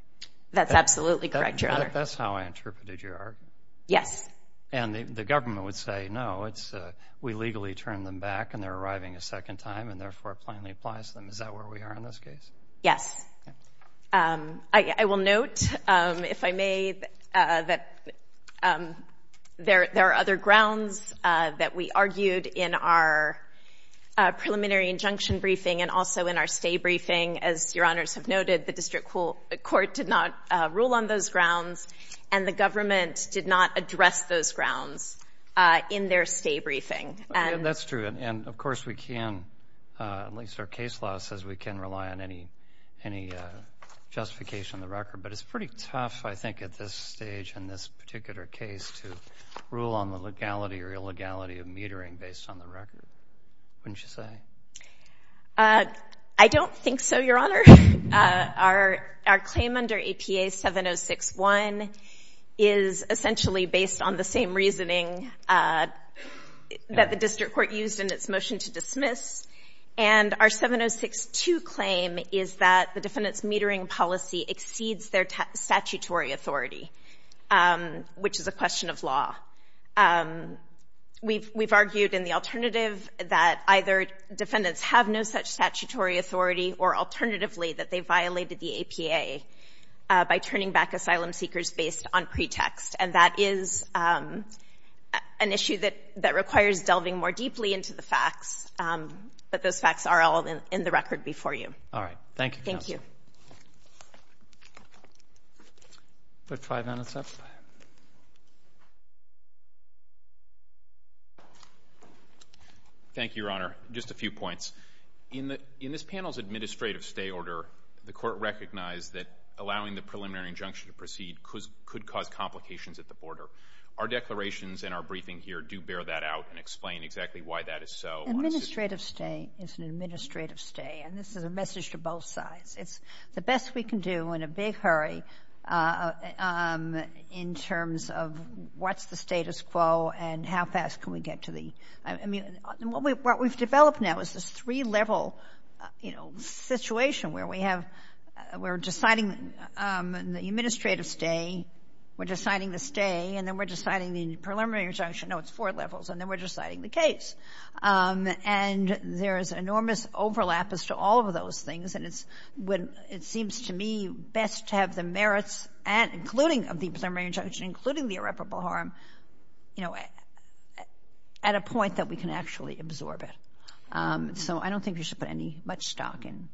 That's absolutely correct, Your Honor. That's how I interpreted your argument. Yes. And the government would say, no, we legally turned them back and they're arriving a court that plainly applies them. Is that where we are in this case? Yes. I will note, if I may, that there are other grounds that we argued in our preliminary injunction briefing and also in our stay briefing. As Your Honors have noted, the district court did not rule on those grounds, and the government did not address those grounds in their stay briefing. That's true. And, of course, we can, at least our case law says, we can rely on any justification in the record. But it's pretty tough, I think, at this stage in this particular case to rule on the legality or illegality of metering based on the record, wouldn't you say? I don't think so, Your Honor. Our claim under APA 7061 is essentially based on the same reasoning that the district court used in its motion to dismiss. And our 7062 claim is that the defendant's metering policy exceeds their statutory authority, which is a question of law. We've argued in the alternative that either defendants have no such statutory authority or, alternatively, that they violated the APA by turning back asylum seekers based on pretext. And that is an issue that requires delving more deeply into the facts. But those facts are all in the record before you. All right. Thank you, Counsel. Thank you. I'll put five minutes up. Thank you, Your Honor. Just a few points. In this panel's administrative stay order, the court recognized that allowing the preliminary injunction to proceed could cause complications at the border. Our declarations and our briefing here do bear that out and explain exactly why that is so. Administrative stay is an administrative stay, and this is a message to both sides. It's the best we can do in a big hurry in terms of what's the status quo and how fast can we get to the—I mean, what we've developed now is this three-level, you know, we're deciding the administrative stay, we're deciding the stay, and then we're deciding the preliminary injunction. No, it's four levels. And then we're deciding the case. And there is enormous overlap as to all of those things, and it seems to me best to have the merits, including of the preliminary injunction, including the irreparable harm, you know, at a point that we can actually absorb it. So I don't think we should put any—much stock in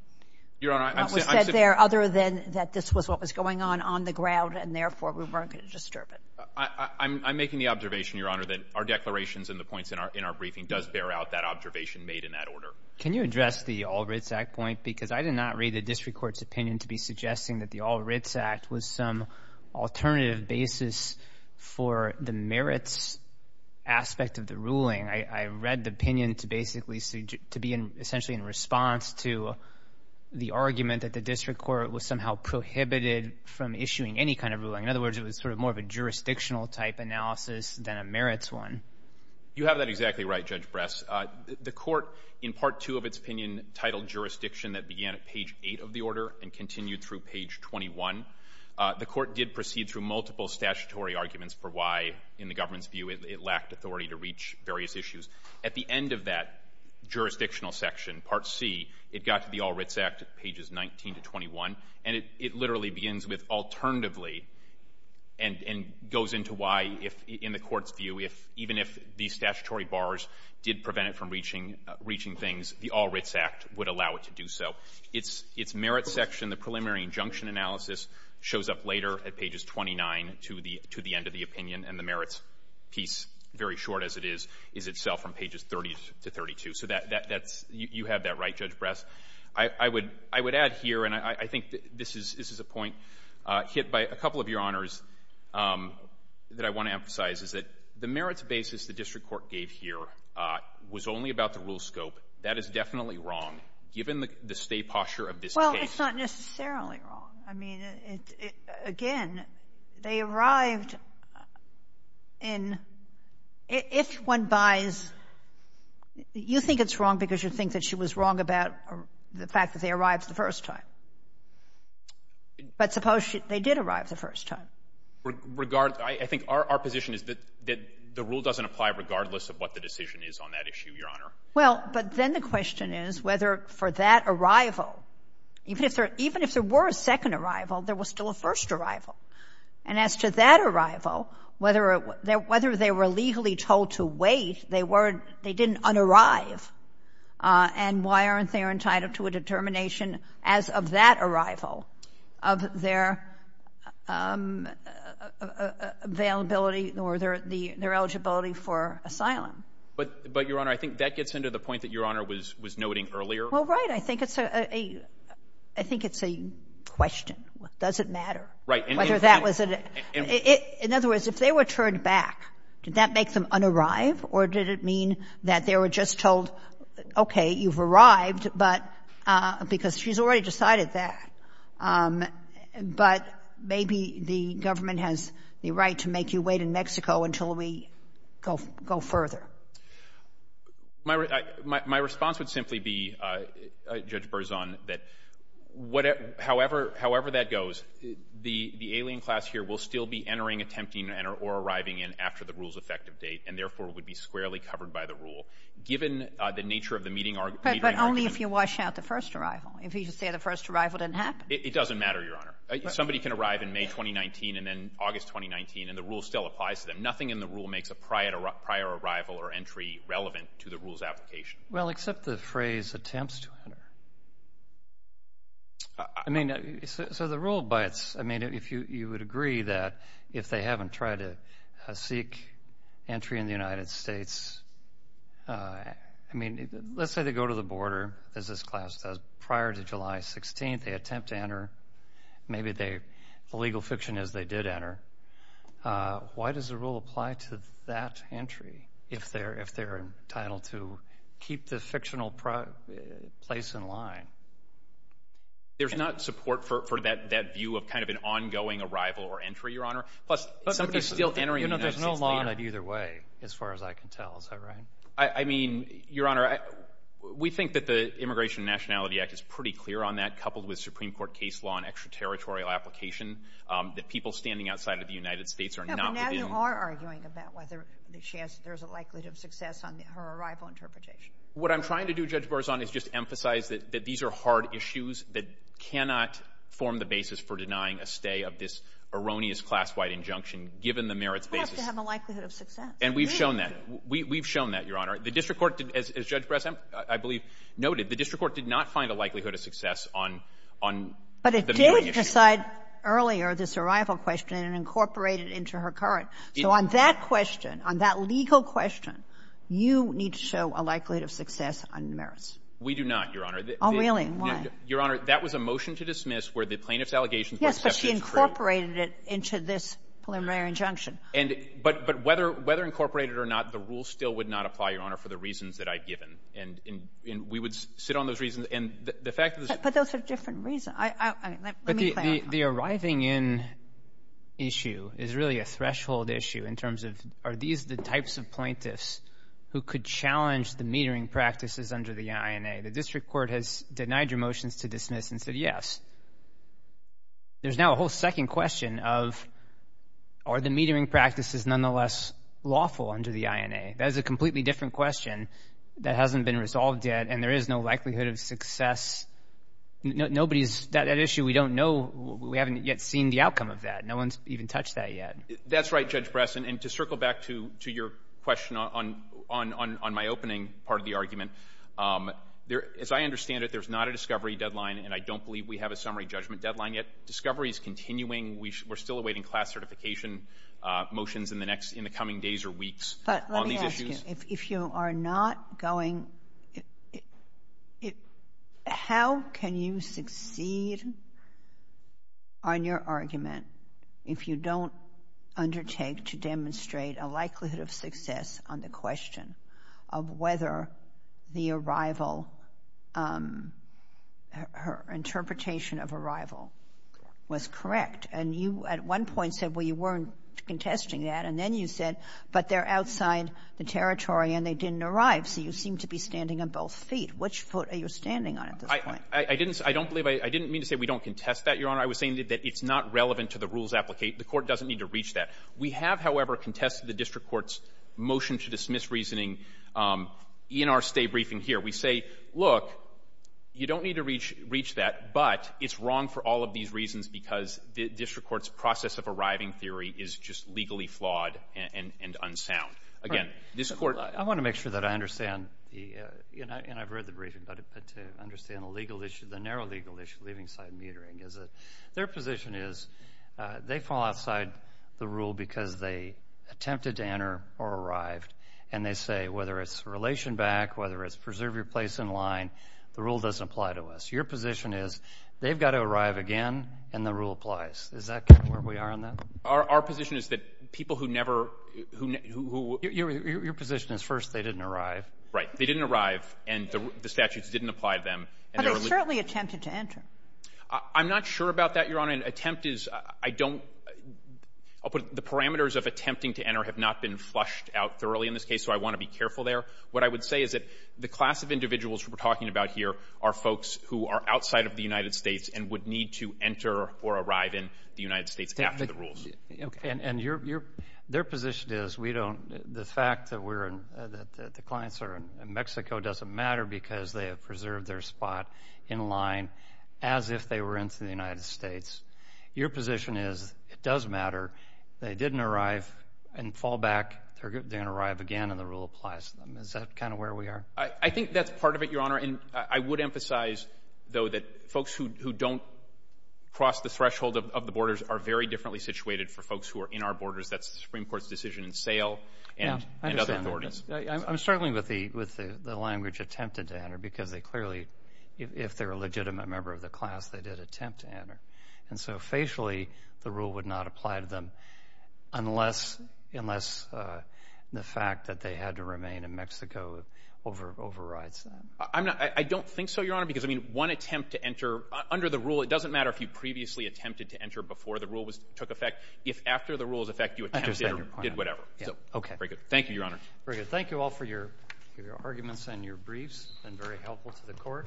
what was said there. Other than that this was what was going on on the ground, and therefore we weren't going to disturb it. I'm making the observation, Your Honor, that our declarations and the points in our briefing does bear out that observation made in that order. Can you address the All Writs Act point? Because I did not read the district court's opinion to be suggesting that the All Writs Act was some alternative basis for the merits aspect of the ruling. I read the opinion to basically—to be essentially in response to the argument that the district court was somehow prohibited from issuing any kind of ruling. In other words, it was sort of more of a jurisdictional type analysis than a merits one. You have that exactly right, Judge Bress. The court, in Part 2 of its opinion, titled jurisdiction that began at page 8 of the order and continued through page 21. The court did proceed through multiple statutory arguments for why, in the government's view, it lacked authority to reach various issues. At the end of that jurisdictional section, Part C, it got to the All Writs Act at pages 19 to 21, and it literally begins with alternatively and goes into why, in the court's view, even if these statutory bars did prevent it from reaching things, the All Writs Act would allow it to do so. Its merits section, the preliminary injunction analysis, shows up later at pages 29 to the end of the opinion, and the merits piece, very short as it is, is itself from pages 30 to 32. So that's — you have that right, Judge Bress. I would add here, and I think this is a point hit by a couple of Your Honors that I want to emphasize, is that the merits basis the district court gave here was only about the rule scope. That is definitely wrong, given the state posture of this case. Well, it's not necessarily wrong. I mean, again, they arrived in — if one buys — you think it's wrong because you think that she was wrong about the fact that they arrived the first time. But suppose they did arrive the first time. I think our position is that the rule doesn't apply regardless of what the decision is on that issue, Your Honor. Well, but then the question is whether for that arrival, even if there were a second arrival, there was still a first arrival. And as to that arrival, whether they were legally told to wait, they didn't un-arrive. And why aren't they entitled to a determination as of that arrival of their availability or their eligibility for asylum? But, Your Honor, I think that gets into the point that Your Honor was noting earlier. Well, right. I think it's a — I think it's a question. Does it matter? Right. Whether that was — in other words, if they were turned back, did that make them un-arrive or did it mean that they were just told, okay, you've arrived, but — because she's already decided that. But maybe the government has the right to make you wait in Mexico until we go further. My response would simply be, Judge Berzon, that however that goes, the alien class here will still be entering, attempting to enter, or arriving in after the rule's effective date, and therefore would be squarely covered by the rule. Given the nature of the meeting — But only if you wash out the first arrival. If you just say the first arrival didn't happen. It doesn't matter, Your Honor. Somebody can arrive in May 2019 and then August 2019, and the rule still applies to them. Nothing in the rule makes a prior arrival or entry relevant to the rule's application. Well, except the phrase, attempts to enter. I mean, so the rule by its — I mean, if you would agree that if they haven't tried to seek entry in the United States — I mean, let's say they go to the border, as this class does, prior to July 16th, they attempt to enter. Maybe they — the legal fiction is they did enter. Why does the rule apply to that entry if they're entitled to keep the fictional place in line? There's not support for that view of kind of an ongoing arrival or entry, Your Honor. Plus, somebody's still entering the United States — You know, there's no law on it either way, as far as I can tell. Is that right? I mean, Your Honor, we think that the Immigration and Nationality Act is pretty clear on that, coupled with Supreme Court case law and extraterritorial application, that people standing outside of the United States are not within — Yeah, but now you are arguing about whether she has — there's a likelihood of success on her arrival interpretation. What I'm trying to do, Judge Barzani, is just emphasize that these are hard issues that cannot form the basis for denying a stay of this erroneous class-wide injunction, given the merits basis. Well, it has to have a likelihood of success. And we've shown that. We've shown that, Your Honor. The district court — as Judge Bressan, I believe, noted, the district court did not find a likelihood of success on the — But it did preside earlier, this arrival question, and incorporate it into her current. So on that question, on that legal question, you need to show a likelihood of success on merits. We do not, Your Honor. Oh, really? Why? Your Honor, that was a motion to dismiss where the plaintiff's allegations were accepted as true. Yes, but she incorporated it into this preliminary injunction. And — but whether incorporated or not, the rule still would not apply, Your Honor, for the reasons that I've given. And we would sit on those reasons. And the fact that — But those are different reasons. I — let me — But the arriving-in issue is really a threshold issue in terms of, are these the types of plaintiffs who could challenge the metering practices under the INA? The district court has denied your motions to dismiss and said yes. There's now a whole second question of, are the metering practices nonetheless lawful under the INA? That is a completely different question that hasn't been resolved yet, and there is no Nobody's — that issue, we don't know — we haven't yet seen the outcome of that. No one's even touched that yet. That's right, Judge Bresson. And to circle back to your question on my opening part of the argument, there — as I understand it, there's not a discovery deadline, and I don't believe we have a summary judgment deadline yet. Discovery is continuing. We're still awaiting class certification motions in the next — in the coming days or weeks on these issues. If you are not going — how can you succeed on your argument if you don't undertake to demonstrate a likelihood of success on the question of whether the arrival — interpretation of arrival was correct? And you, at one point, said, well, you weren't contesting that, and then you said, but they're outside the territory and they didn't arrive, so you seem to be standing on both feet. Which foot are you standing on at this point? I didn't — I don't believe — I didn't mean to say we don't contest that, Your Honor. I was saying that it's not relevant to the rules applicate — the Court doesn't need to reach that. We have, however, contested the district court's motion to dismiss reasoning in our State Briefing here. We say, look, you don't need to reach that, but it's wrong for all of these reasons because the district court's process of arriving theory is just legally flawed and unsound. Again, this Court — I want to make sure that I understand the — and I've read the briefing, but to understand the legal issue, the narrow legal issue of leaving site metering is that their position is they fall outside the rule because they attempted to enter or arrived, and they say whether it's relation back, whether it's preserve your place in line, the rule doesn't apply to us. Your position is they've got to arrive again, and the rule applies. Is that kind of where we are on that? Our position is that people who never — who — Your position is, first, they didn't arrive. Right. They didn't arrive, and the statutes didn't apply to them. But they certainly attempted to enter. I'm not sure about that, Your Honor. An attempt is — I don't — I'll put it — the parameters of attempting to enter have not been flushed out thoroughly in this case, so I want to be careful there. What I would say is that the class of individuals we're talking about here are folks who are outside of the United States and would need to enter or arrive in the United States after the rules. And your — their position is we don't — the fact that we're — that the clients are in Mexico doesn't matter because they have preserved their spot in line as if they were into the United States. Your position is it does matter. They didn't arrive and fall back. They didn't arrive again, and the rule applies to them. Is that kind of where we are? I think that's part of it, Your Honor. And I would emphasize, though, that folks who don't cross the threshold of the borders are very differently situated for folks who are in our borders. That's the Supreme Court's decision in Sale and other authorities. I understand. I'm struggling with the language attempted to enter because they clearly — if they're a legitimate member of the class, they did attempt to enter. And so, facially, the rule would not apply to them unless — unless the fact that they had to remain in Mexico overrides that. I'm not — I don't think so, Your Honor, because, I mean, one attempt to enter — under the rule, it doesn't matter if you previously attempted to enter before the rule was — took effect. If after the rule was in effect, you attempted or did whatever. I understand your point. Yeah. Okay. Very good. Thank you, Your Honor. Very good. Thank you all for your arguments and your briefs. It's been very helpful to the Court. Thank you.